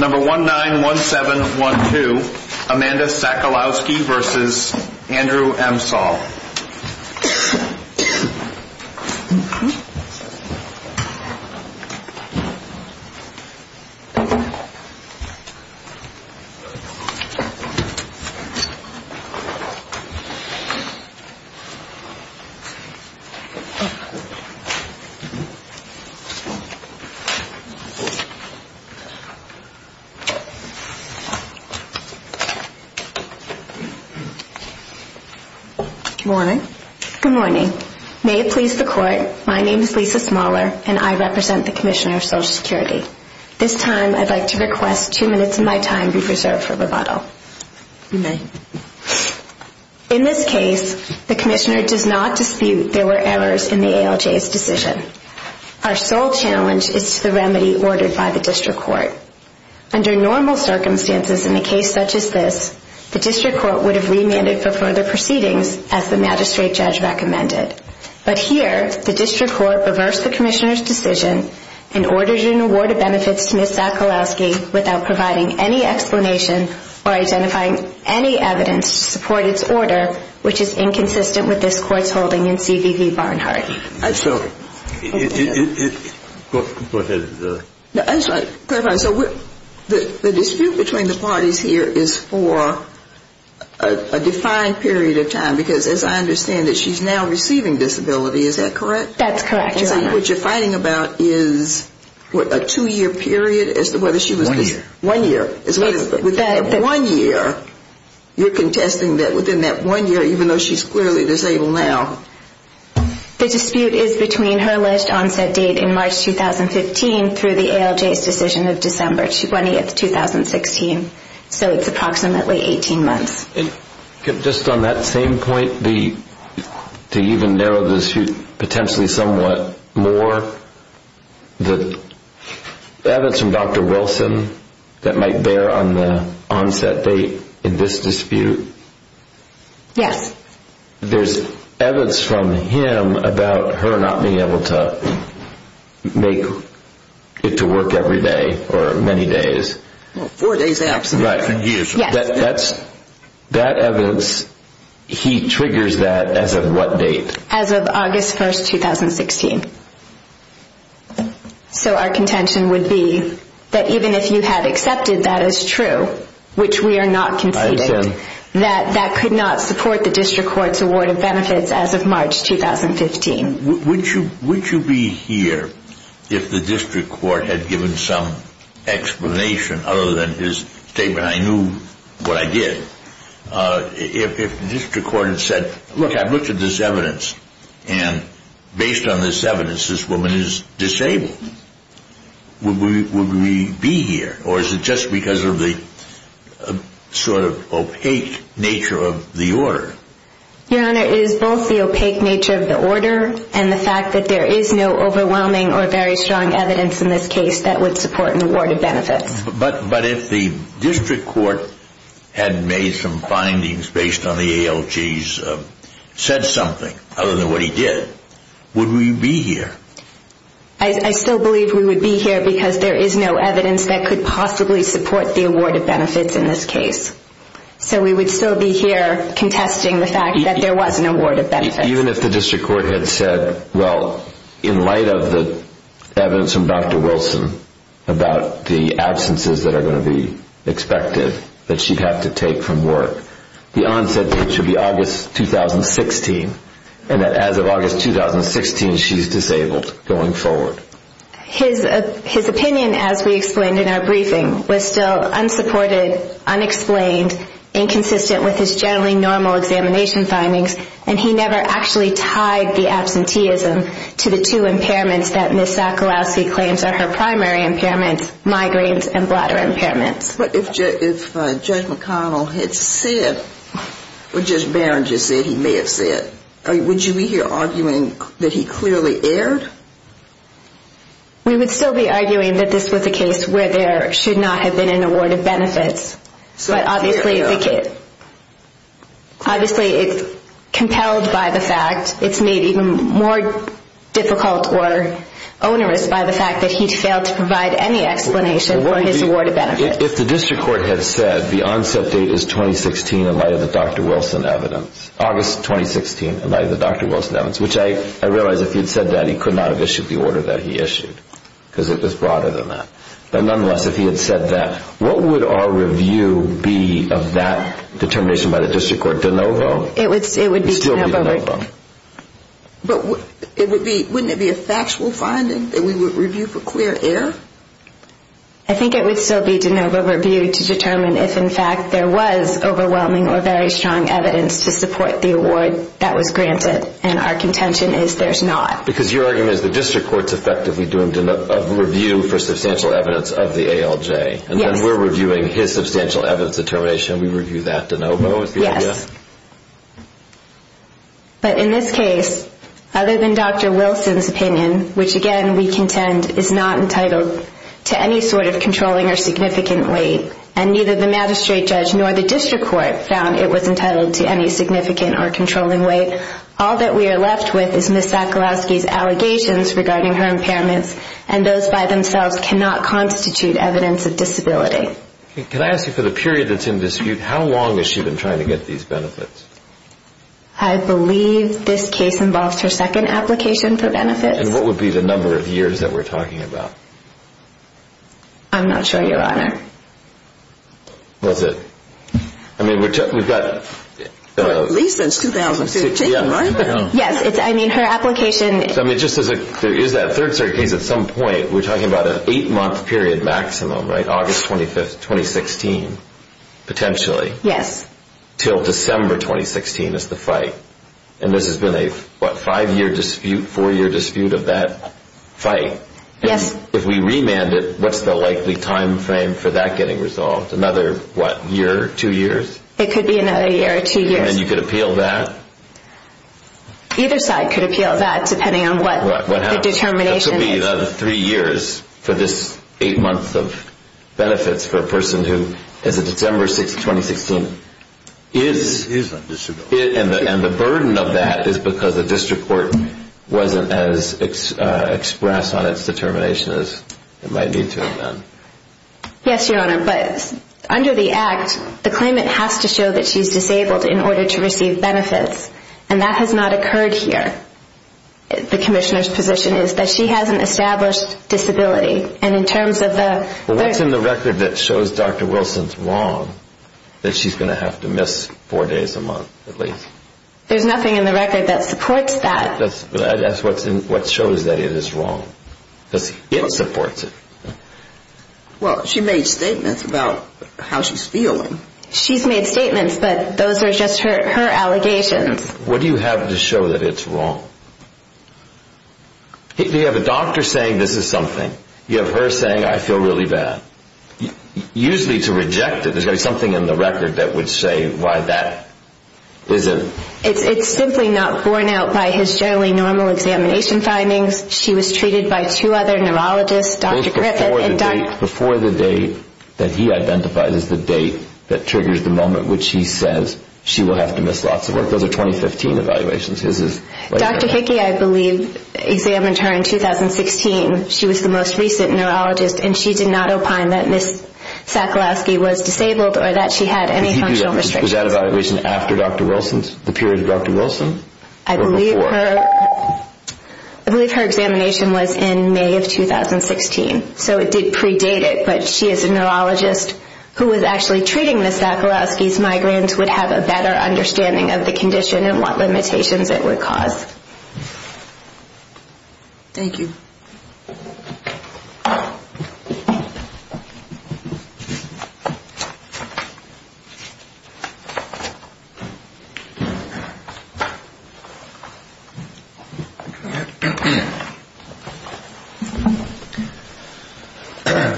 191712 Amanda Sackalowski v. Andrew M. Saul Good morning. May it please the court, my name is Lisa Smaller and I represent the Commissioner of Social Security. This time I'd like to request two minutes of my time be reserved for rebuttal. You may. In this case, the Commissioner does not dispute there were errors in the Under normal circumstances in a case such as this, the District Court would have remanded for further proceedings as the magistrate judge recommended. But here, the District Court reversed the Commissioner's decision and ordered an award of benefits to Ms. Sackalowski without providing any explanation or identifying any evidence to support its order, which is inconsistent with this Court's holding in C.V.V. Barnhart. So the dispute between the parties here is for a defined period of time, because as I understand it, she's now receiving disability, is that correct? That's correct, Your Honor. So what you're fighting about is a two-year period as to whether she was... One year. One year. Within that one year, you're contesting that within that one year, even though she's clearly disabled now. The dispute is between her alleged onset date in March 2015 through the ALJ's decision of December 20th, 2016. So it's approximately 18 months. Just on that same point, to even narrow the dispute potentially somewhat more, the evidence from Dr. Wilson that might bear on the onset date in this dispute? Yes. There's evidence from him about her not being able to make it to work every day or many days. Four days, absolutely. Right. For years. Yes. That evidence, he triggers that as of what date? As of August 1st, 2016. So our contention would be that even if you had accepted that as that could not support the district court's award of benefits as of March 2015. Would you be here if the district court had given some explanation other than his statement, I knew what I did, if the district court had said, look, I've looked at this evidence, and based on this evidence, this woman is disabled. Would we be here? Or is it just because of the sort of opaque nature of the order? Your Honor, it is both the opaque nature of the order and the fact that there is no overwhelming or very strong evidence in this case that would support an award of benefits. But if the district court had made some findings based on the ALJ's, said something other than what he did, would we be here? I still believe we would be here because there is no evidence that could possibly support the award of benefits in this case. So we would still be here contesting the fact that there was an award of benefits. Even if the district court had said, well, in light of the evidence from Dr. Wilson about the absences that are going to be expected that she'd have to take from work, the onset date should be she's disabled going forward. His opinion, as we explained in our briefing, was still unsupported, unexplained, inconsistent with his generally normal examination findings, and he never actually tied the absenteeism to the two impairments that Ms. Sokolowski claims are her primary impairments, migraines and bladder impairments. But if Judge McConnell had said, or Judge Barron just said he may have said, would you be here arguing that he clearly erred? We would still be arguing that this was a case where there should not have been an award of benefits. But obviously it's compelled by the fact, it's made even more difficult or onerous by the fact that he failed to provide any explanation for his award of benefits. If the district court had said the onset date is 2016 in light of the Dr. Wilson evidence, August 2016 in light of the Dr. Wilson evidence, which I realize if he had said that he could not have issued the order that he issued, because it was broader than that. But nonetheless, if he had said that, what would our review be of that determination by the district court de novo? It would still be de novo. But wouldn't it be a factual finding that we would review for clear error? I think it would still be de novo review to determine if in fact there was overwhelming or very clear evidence of an award that was granted and our contention is there's not. Because your argument is the district court is effectively doing a review for substantial evidence of the ALJ. Yes. And then we're reviewing his substantial evidence determination, we review that de novo. Yes. But in this case, other than Dr. Wilson's opinion, which again we contend is not entitled to any sort of controlling or significant weight and neither the magistrate judge nor the district court found it was All that we are left with is Ms. Sakulowsky's allegations regarding her impairments and those by themselves cannot constitute evidence of disability. Can I ask you for the period that's in dispute, how long has she been trying to get these benefits? I believe this case involves her second application for benefits. And what would be the number of years that we're talking about? I'm not sure, your honor. That's it. I mean, we've got At least since 2013, right? Yes. I mean, her application I mean, just as there is that third case at some point, we're talking about an eight-month period maximum, right? August 25th, 2016, potentially. Yes. Till December 2016 is the fight. And this has been a, what, five-year dispute, four-year dispute of that fight. Yes. If we remand it, what's the likely time frame for that getting resolved? Another, what, year, two years? It could be another year or two years. And you could appeal that? Either side could appeal that, depending on what the determination is. That could be another three years for this eight months of benefits for a person who, as of December 2016, is Is a disability. And the burden of that is because the district court wasn't as expressed on its determination as it might need to have been. Yes, your honor. But under the act, the claimant has to show that she's disabled in order to receive benefits. And that has not occurred here. The commissioner's position is that she has an established disability. And in terms of the Well, what's in the record that shows Dr. Wilson's wrong, that she's going to have to miss four days a month, at least? There's nothing in the record that supports that. That's what shows that it is wrong. Because it supports it. Well, she made statements about how she's feeling. She's made statements, but those are just her allegations. What do you have to show that it's wrong? You have a doctor saying this is something. You have her saying, I feel really bad. Usually to reject it, there's got to be something in the record that would say why that isn't. It's simply not borne out by his generally normal examination findings. She was treated by two other neurologists, Dr. Griffith and Dr. Before the date that he identifies as the date that triggers the moment which he says she will have to miss lots of work. Those are 2015 evaluations. Dr. Hickey, I believe, examined her in 2016. She was the most recent neurologist, and she did not opine that Ms. Sackalowski was disabled or that she had any functional restrictions. Was that evaluation after Dr. Wilson's, the period of Dr. Wilson? I believe her examination was in May of 2016, so it did predate it. But she is a neurologist who was actually treating Ms. Sackalowski's migraines, so her findings would have a better understanding of the condition and what limitations it would cause. Thank you.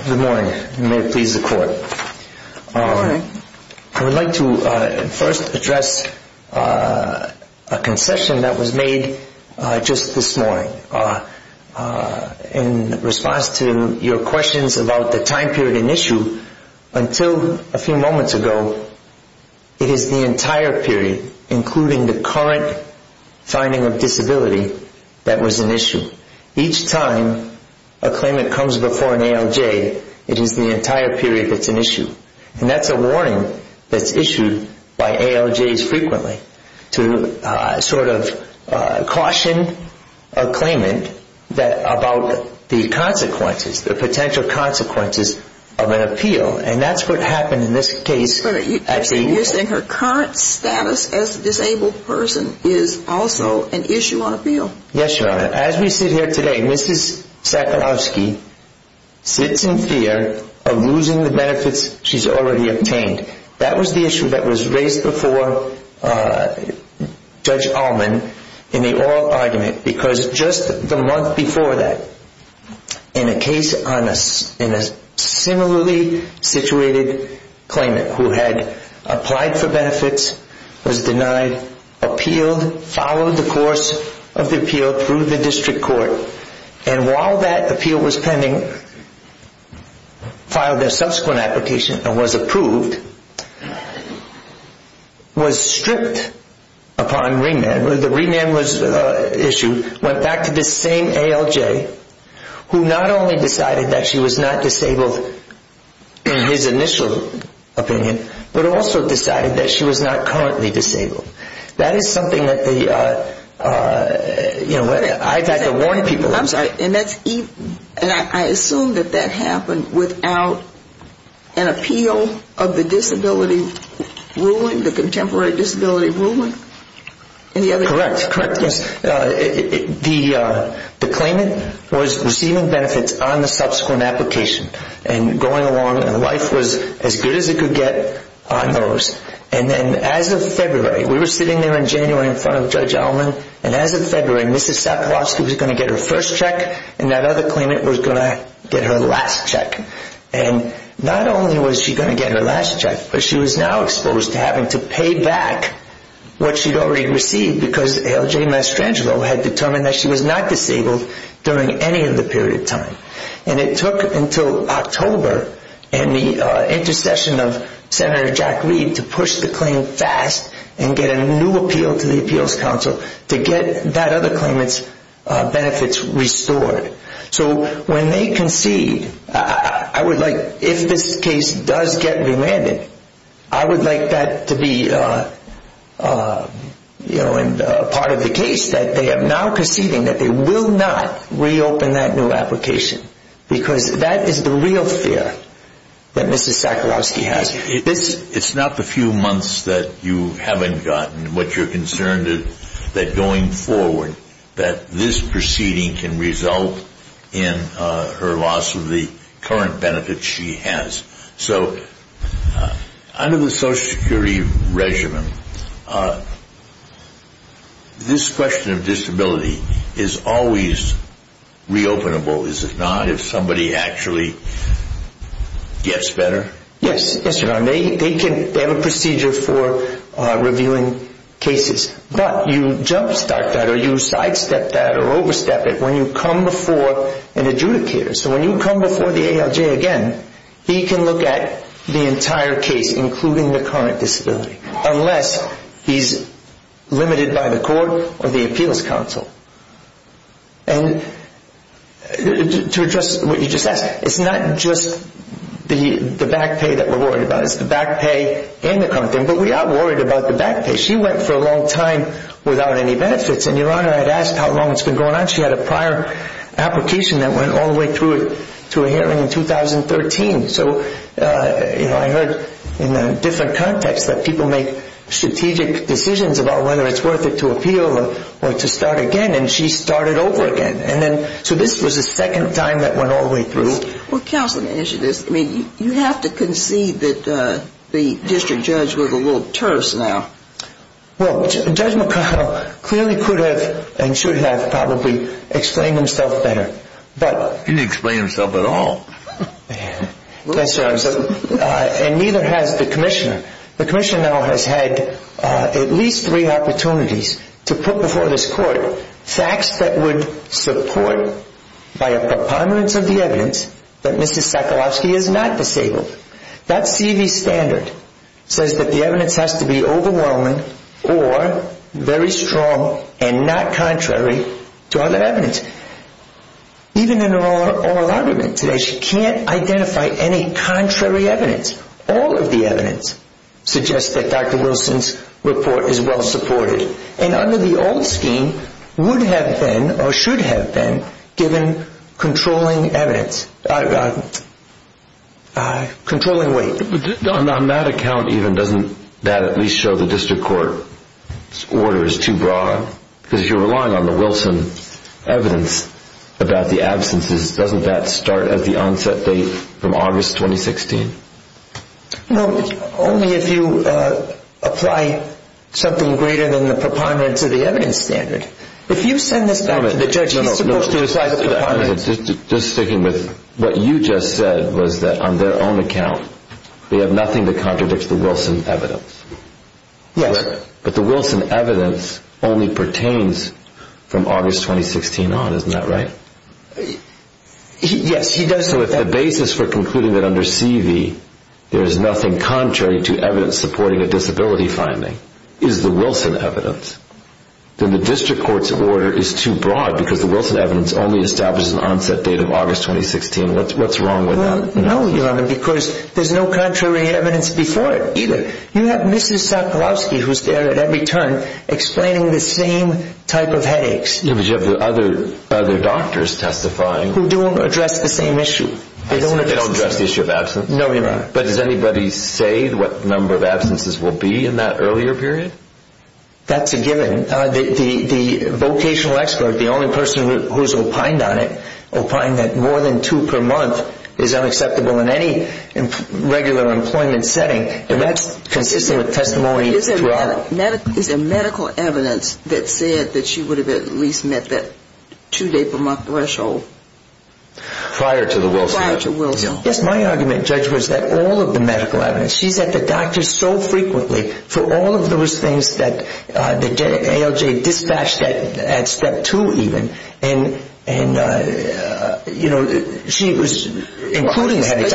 Good morning, and may it please the Court. Good morning. I would like to first address a concession that was made just this morning. In response to your questions about the time period in issue, until a few moments ago, it is the entire period, including the current finding of disability, that was an issue. Each time a claimant comes before an ALJ, it is the entire period that's an issue. And that's a warning that's issued by ALJs frequently, to sort of caution a claimant about the consequences, the potential consequences of an appeal. And that's what happened in this case. You're saying her current status as a disabled person is also an issue on appeal? Yes, Your Honor. As we sit here today, Ms. Sackalowski sits in fear of losing the benefits she's already obtained. That was the issue that was raised before Judge Allman in the oral argument, because just the month before that, in a case on a similarly situated claimant who had applied for benefits, was denied, appealed, followed the course of the appeal through the district court, and while that appeal was pending, filed a subsequent application and was approved, was stripped upon remand, the remand was issued, went back to the same ALJ, who not only decided that she was not disabled in his initial opinion, but also decided that she was not currently disabled. That is something that the, you know, I've had to warn people. I'm sorry, and that's, and I assume that that happened without an appeal of the disability ruling, the contemporary disability ruling? Correct, correct. The claimant was receiving benefits on the subsequent application, and going along, and life was as good as it could get on those. And then as of February, we were sitting there in January in front of Judge Allman, and as of February, Ms. Sackalowski was going to get her first check, and that other claimant was going to get her last check. And not only was she going to get her last check, but she was now exposed to having to pay back what she'd already received, because ALJ Mastrangelo had determined that she was not disabled during any of the period of time. And it took until October and the intercession of Senator Jack Reed to push the claim fast and get a new appeal to the Appeals Council to get that other claimant's benefits restored. So when they concede, I would like, if this case does get re-landed, I would like that to be, you know, part of the case that they are now conceding that they will not reopen that new application, because that is the real fear that Ms. Sackalowski has. It's not the few months that you haven't gotten, but you're concerned that going forward, that this proceeding can result in her loss of the current benefits she has. So under the Social Security regimen, this question of disability is always re-openable, is it not? If somebody actually gets better? Yes, Your Honor. They have a procedure for revealing cases. But you jumpstart that or you sidestep that or overstep it when you come before an adjudicator. So when you come before the ALJ again, he can look at the entire case, including the current disability, unless he's limited by the court or the Appeals Council. And to address what you just asked, it's not just the back pay that we're worried about. It's the back pay and the current thing. But we are worried about the back pay. She went for a long time without any benefits. And, Your Honor, I had asked how long it's been going on. She had a prior application that went all the way through to a hearing in 2013. So I heard in a different context that people make strategic decisions about whether it's worth it to appeal or to start again. And she started over again. So this was the second time that went all the way through. Counseling initiatives, you have to concede that the district judge was a little terse now. Well, Judge McConnell clearly could have and should have probably explained himself better. He didn't explain himself at all. Yes, sir. And neither has the commissioner. The commissioner now has had at least three opportunities to put before this court facts that would support, by a prominence of the evidence, that Mrs. Sakalowski is not disabled. That C.V. standard says that the evidence has to be overwhelming or very strong and not contrary to other evidence. Even in her oral argument today, she can't identify any contrary evidence. All of the evidence suggests that Dr. Wilson's report is well supported. And under the old scheme, would have been or should have been given controlling evidence. Controlling weight. On that account even, doesn't that at least show the district court's order is too broad? Because if you're relying on the Wilson evidence about the absences, doesn't that start at the onset date from August 2016? No, only if you apply something greater than the preponderance of the evidence standard. If you send this back to the judge, he's supposed to apply the preponderance. Just sticking with what you just said was that on their own account, they have nothing to contradict the Wilson evidence. Yes. But the Wilson evidence only pertains from August 2016 on, isn't that right? Yes, he does. So if the basis for concluding that under C.V. there is nothing contrary to evidence supporting a disability finding is the Wilson evidence, then the district court's order is too broad because the Wilson evidence only establishes an onset date of August 2016. What's wrong with that? Well, no, Your Honor, because there's no contrary evidence before it either. You have Mrs. Sokolowski who's there at every turn explaining the same type of headaches. Yeah, but you have the other doctors testifying. Who don't address the same issue. They don't address the issue of absence? No, Your Honor. But does anybody say what number of absences will be in that earlier period? That's a given. The vocational expert, the only person who's opined on it, opined that more than two per month is unacceptable in any regular employment setting. And that's consistent with testimony throughout. Is there medical evidence that said that she would have at least met that two-day-per-month threshold? Prior to the Wilson. Prior to Wilson. Yes, my argument, Judge, was that all of the medical evidence. She's at the doctor so frequently for all of those things that ALJ dispatched at step two even. And, you know, she was including headaches.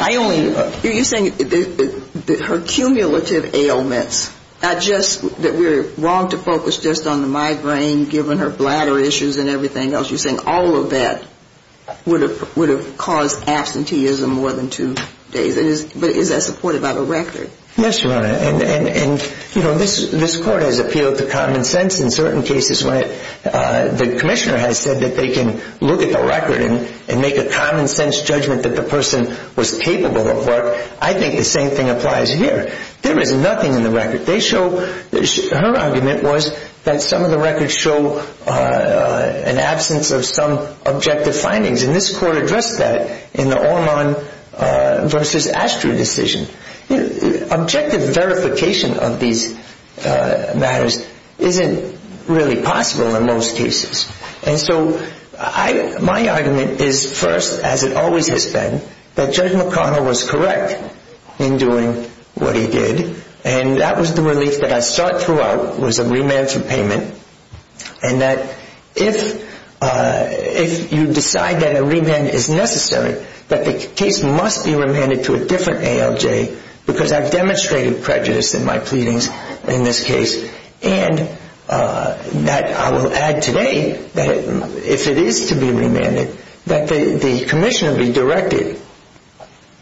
You're saying her cumulative ailments, not just that we're wrong to focus just on the migraine given her bladder issues and everything else. You're saying all of that would have caused absenteeism more than two days. But is that supported by the record? Yes, Your Honor. And, you know, this court has appealed to common sense in certain cases when the commissioner has said that they can look at the record and make a common sense judgment that the person was capable of work. I think the same thing applies here. There is nothing in the record. Her argument was that some of the records show an absence of some objective findings. And this court addressed that in the Ormond v. Ashtray decision. Objective verification of these matters isn't really possible in most cases. And so my argument is first, as it always has been, that Judge McConnell was correct in doing what he did. And that was the relief that I sought throughout was a remand for payment. And that if you decide that a remand is necessary, that the case must be remanded to a different ALJ because I've demonstrated prejudice in my pleadings in this case. And I will add today that if it is to be remanded, that the commissioner be directed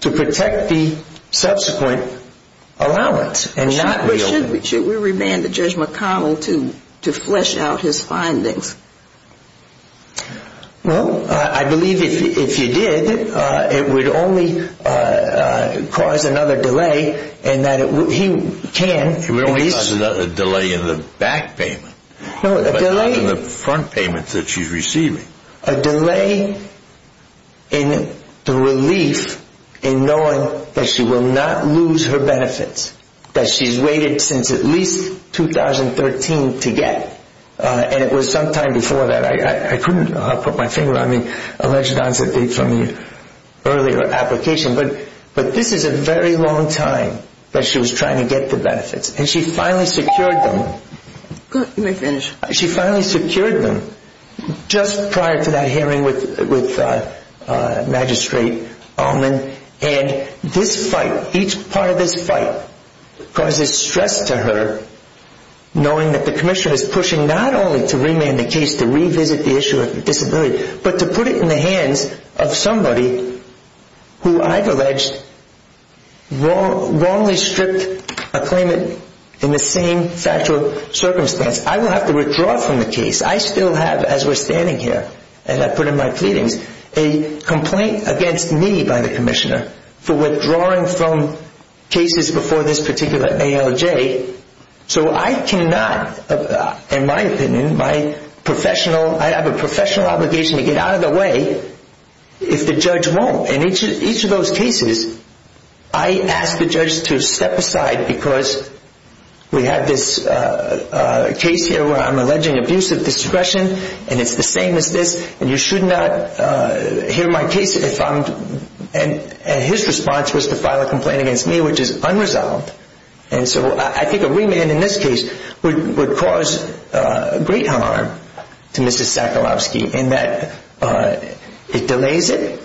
to protect the subsequent allowance and not reopen. Should we remand Judge McConnell to flesh out his findings? Well, I believe if you did, it would only cause another delay in that he can. It would only cause a delay in the back payment. No, a delay. But not in the front payments that she's receiving. A delay in the relief in knowing that she will not lose her benefits that she's waited since at least 2013 to get. And it was sometime before that. I couldn't put my finger on the alleged onset date from the earlier application. But this is a very long time that she was trying to get the benefits. And she finally secured them. You may finish. She finally secured them just prior to that hearing with Magistrate Ullman. And this fight, each part of this fight, causes stress to her knowing that the commissioner is pushing not only to remand the case, to revisit the issue of disability, but to put it in the hands of somebody who I've alleged wrongly stripped a claimant in the same factual circumstance. I will have to withdraw from the case. I still have, as we're standing here, and I put in my pleadings, a complaint against me by the commissioner for withdrawing from cases before this particular ALJ. So I cannot, in my opinion, my professional, I have a professional obligation to get out of the way if the judge won't. And each of those cases, I ask the judge to step aside because we have this case here where I'm alleging abuse of discretion, and it's the same as this, and you should not hear my case if I'm, and his response was to file a complaint against me, which is unresolved. And so I think a remand in this case would cause great harm to Mrs. Sakharovsky in that it delays it.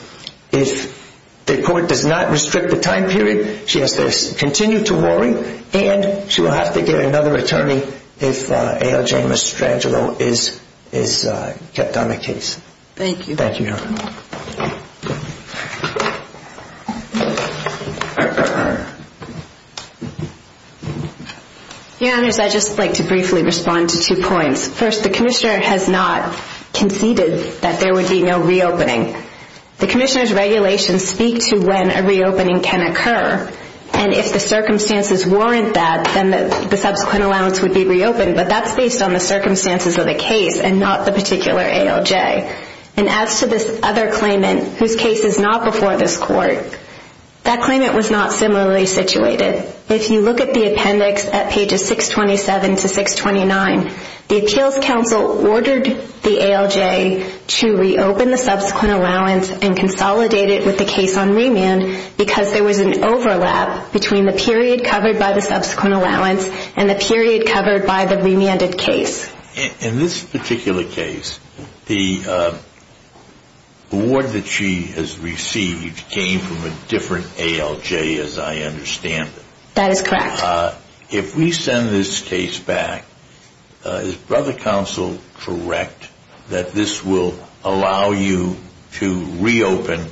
If the court does not restrict the time period, she has to continue to worry, and she will have to get another attorney if ALJ Mastrangelo is kept on the case. Thank you, Your Honor. Your Honor, I'd just like to briefly respond to two points. First, the commissioner has not conceded that there would be no reopening. The commissioner's regulations speak to when a reopening can occur, and if the circumstances warrant that, then the subsequent allowance would be reopened, but that's based on the circumstances of the case and not the particular ALJ. And as to this other claimant, whose case is not before this court, that claimant was not similarly situated. If you look at the appendix at pages 627 to 629, the appeals counsel ordered the ALJ to reopen the subsequent allowance and consolidate it with the case on remand because there was an overlap between the period covered by the subsequent allowance and the period covered by the remanded case. In this particular case, the award that she has received came from a different ALJ, as I understand it. That is correct. If we send this case back, is brother counsel correct that this will allow you to reopen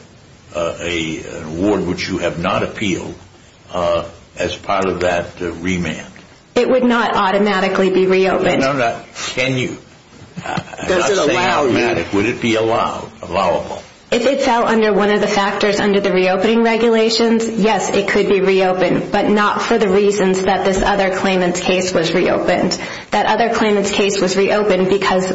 an award which you have not appealed as part of that remand? It would not automatically be reopened. No, no, no. Can you? Does it allow you? I'm not saying automatic. Would it be allowable? If it fell under one of the factors under the reopening regulations, yes, it could be reopened, but not for the reasons that this other claimant's case was reopened. That other claimant's case was reopened because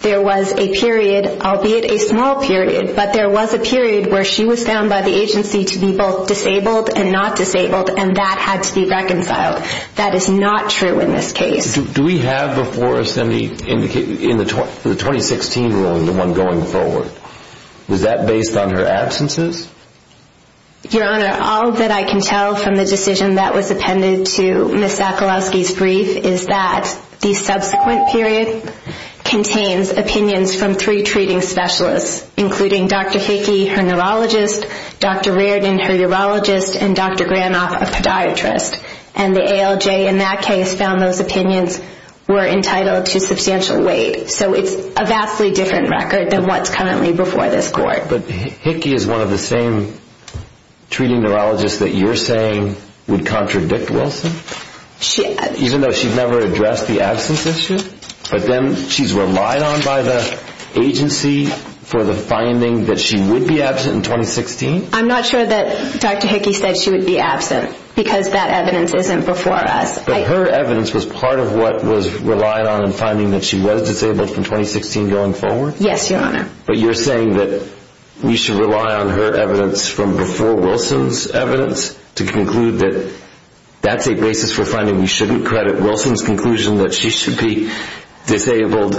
there was a period, albeit a small period, but there was a period where she was found by the agency to be both disabled and not disabled, and that had to be reconciled. That is not true in this case. Do we have before us any indication in the 2016 ruling, the one going forward, was that based on her absences? Your Honor, all that I can tell from the decision that was appended to Ms. Sakolowski's brief is that the subsequent period contains opinions from three treating specialists, including Dr. Hickey, her neurologist, Dr. Reardon, her urologist, and Dr. Granoff, a podiatrist. And the ALJ in that case found those opinions were entitled to substantial weight. So it's a vastly different record than what's currently before this Court. But Hickey is one of the same treating neurologists that you're saying would contradict Wilson? Even though she's never addressed the absence issue? But then she's relied on by the agency for the finding that she would be absent in 2016? I'm not sure that Dr. Hickey said she would be absent because that evidence isn't before us. But her evidence was part of what was relied on in finding that she was disabled from 2016 going forward? Yes, Your Honor. But you're saying that we should rely on her evidence from before Wilson's evidence to conclude that that's a basis for finding we shouldn't credit Wilson's conclusion that she should be disabled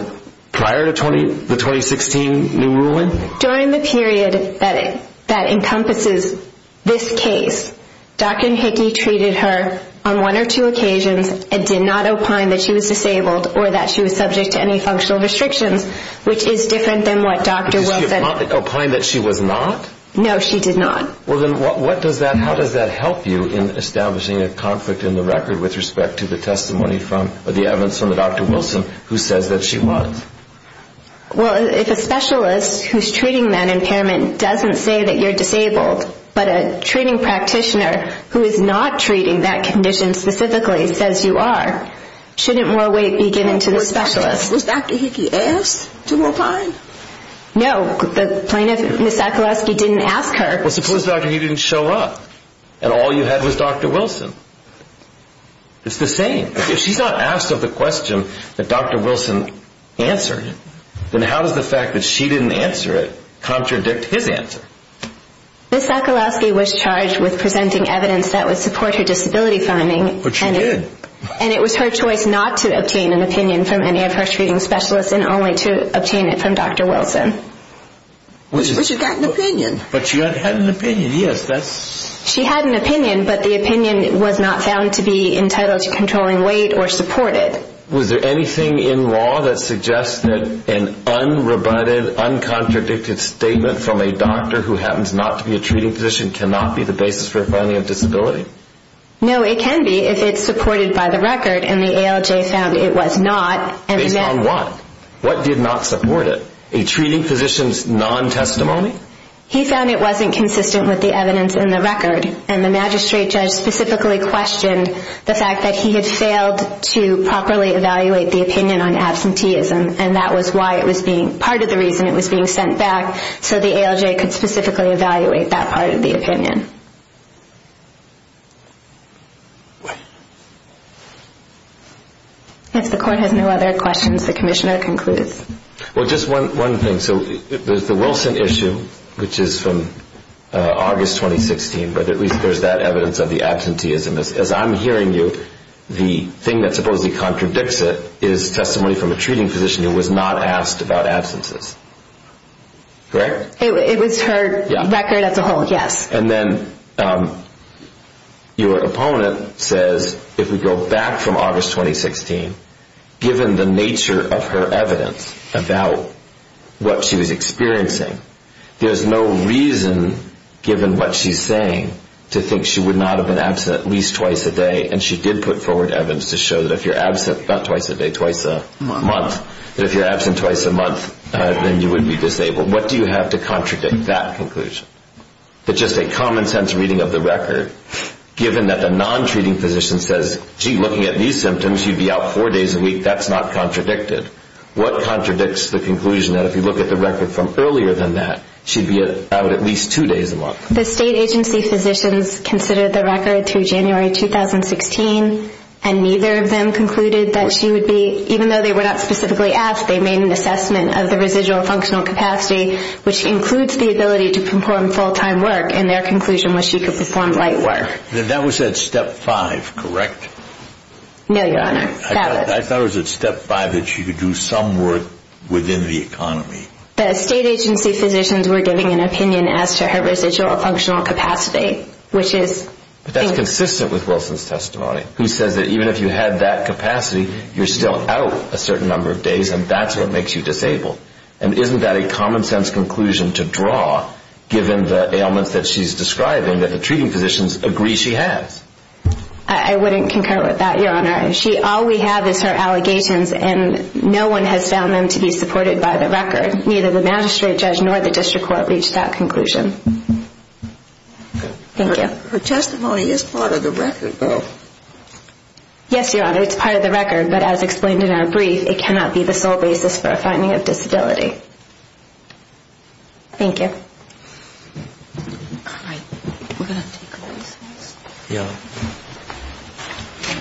prior to the 2016 new ruling? During the period that encompasses this case, Dr. Hickey treated her on one or two occasions and did not opine that she was disabled or that she was subject to any functional restrictions, which is different than what Dr. Wilson... Did she opine that she was not? No, she did not. Well, then how does that help you in establishing a conflict in the record with respect to the evidence from Dr. Wilson who says that she was? Well, if a specialist who's treating that impairment doesn't say that you're disabled, but a treating practitioner who is not treating that condition specifically says you are, shouldn't more weight be given to the specialist? Was Dr. Hickey asked to opine? No, the plaintiff, Ms. Sokoloski, didn't ask her. Well, suppose Dr. Hickey didn't show up and all you had was Dr. Wilson. It's the same. If she's not asked of the question that Dr. Wilson answered, then how does the fact that she didn't answer it contradict his answer? Ms. Sokoloski was charged with presenting evidence that would support her disability finding. But she did. And it was her choice not to obtain an opinion from any of her treating specialists and only to obtain it from Dr. Wilson. But she got an opinion. But she had an opinion, yes. She had an opinion, but the opinion was not found to be entitled to controlling weight or supported. Was there anything in law that suggests that an unrebutted, uncontradicted statement from a doctor who happens not to be a treating physician cannot be the basis for a finding of disability? No, it can be if it's supported by the record and the ALJ found it was not. Based on what? What did not support it? A treating physician's non-testimony? He found it wasn't consistent with the evidence in the record, and the magistrate judge specifically questioned the fact that he had failed to properly evaluate the opinion on absenteeism, and that was part of the reason it was being sent back so the ALJ could specifically evaluate that part of the opinion. If the Court has no other questions, the Commissioner concludes. Well, just one thing. So there's the Wilson issue, which is from August 2016, but at least there's that evidence of the absenteeism. As I'm hearing you, the thing that supposedly contradicts it is testimony from a treating physician who was not asked about absences, correct? It was her record as a whole, yes. And then your opponent says, if we go back from August 2016, given the nature of her evidence about what she was experiencing, there's no reason, given what she's saying, to think she would not have been absent at least twice a day, and she did put forward evidence to show that if you're absent not twice a day, twice a month, that if you're absent twice a month, then you would be disabled. What do you have to contradict that conclusion? That just a common-sense reading of the record, given that the non-treating physician says, gee, looking at these symptoms, she'd be out four days a week. That's not contradicted. What contradicts the conclusion that if you look at the record from earlier than that, she'd be out at least two days a month? The state agency physicians considered the record through January 2016, and neither of them concluded that she would be, even though they were not specifically asked, they made an assessment of the residual functional capacity, which includes the ability to perform full-time work, and their conclusion was she could perform light work. Then that was at step five, correct? No, Your Honor. I thought it was at step five that she could do some work within the economy. The state agency physicians were giving an opinion as to her residual functional capacity, which is... But that's consistent with Wilson's testimony, who says that even if you had that capacity, you're still out a certain number of days, and that's what makes you disabled. And isn't that a common-sense conclusion to draw, given the ailments that she's describing, that the treating physicians agree she has? I wouldn't concur with that, Your Honor. All we have is her allegations, and no one has found them to be supported by the record. Neither the magistrate judge nor the district court reached that conclusion. Thank you. Her testimony is part of the record, though. Yes, Your Honor, it's part of the record, but as explained in our brief, it cannot be the sole basis for a finding of disability. Thank you. All right, we're going to take a recess. Yeah.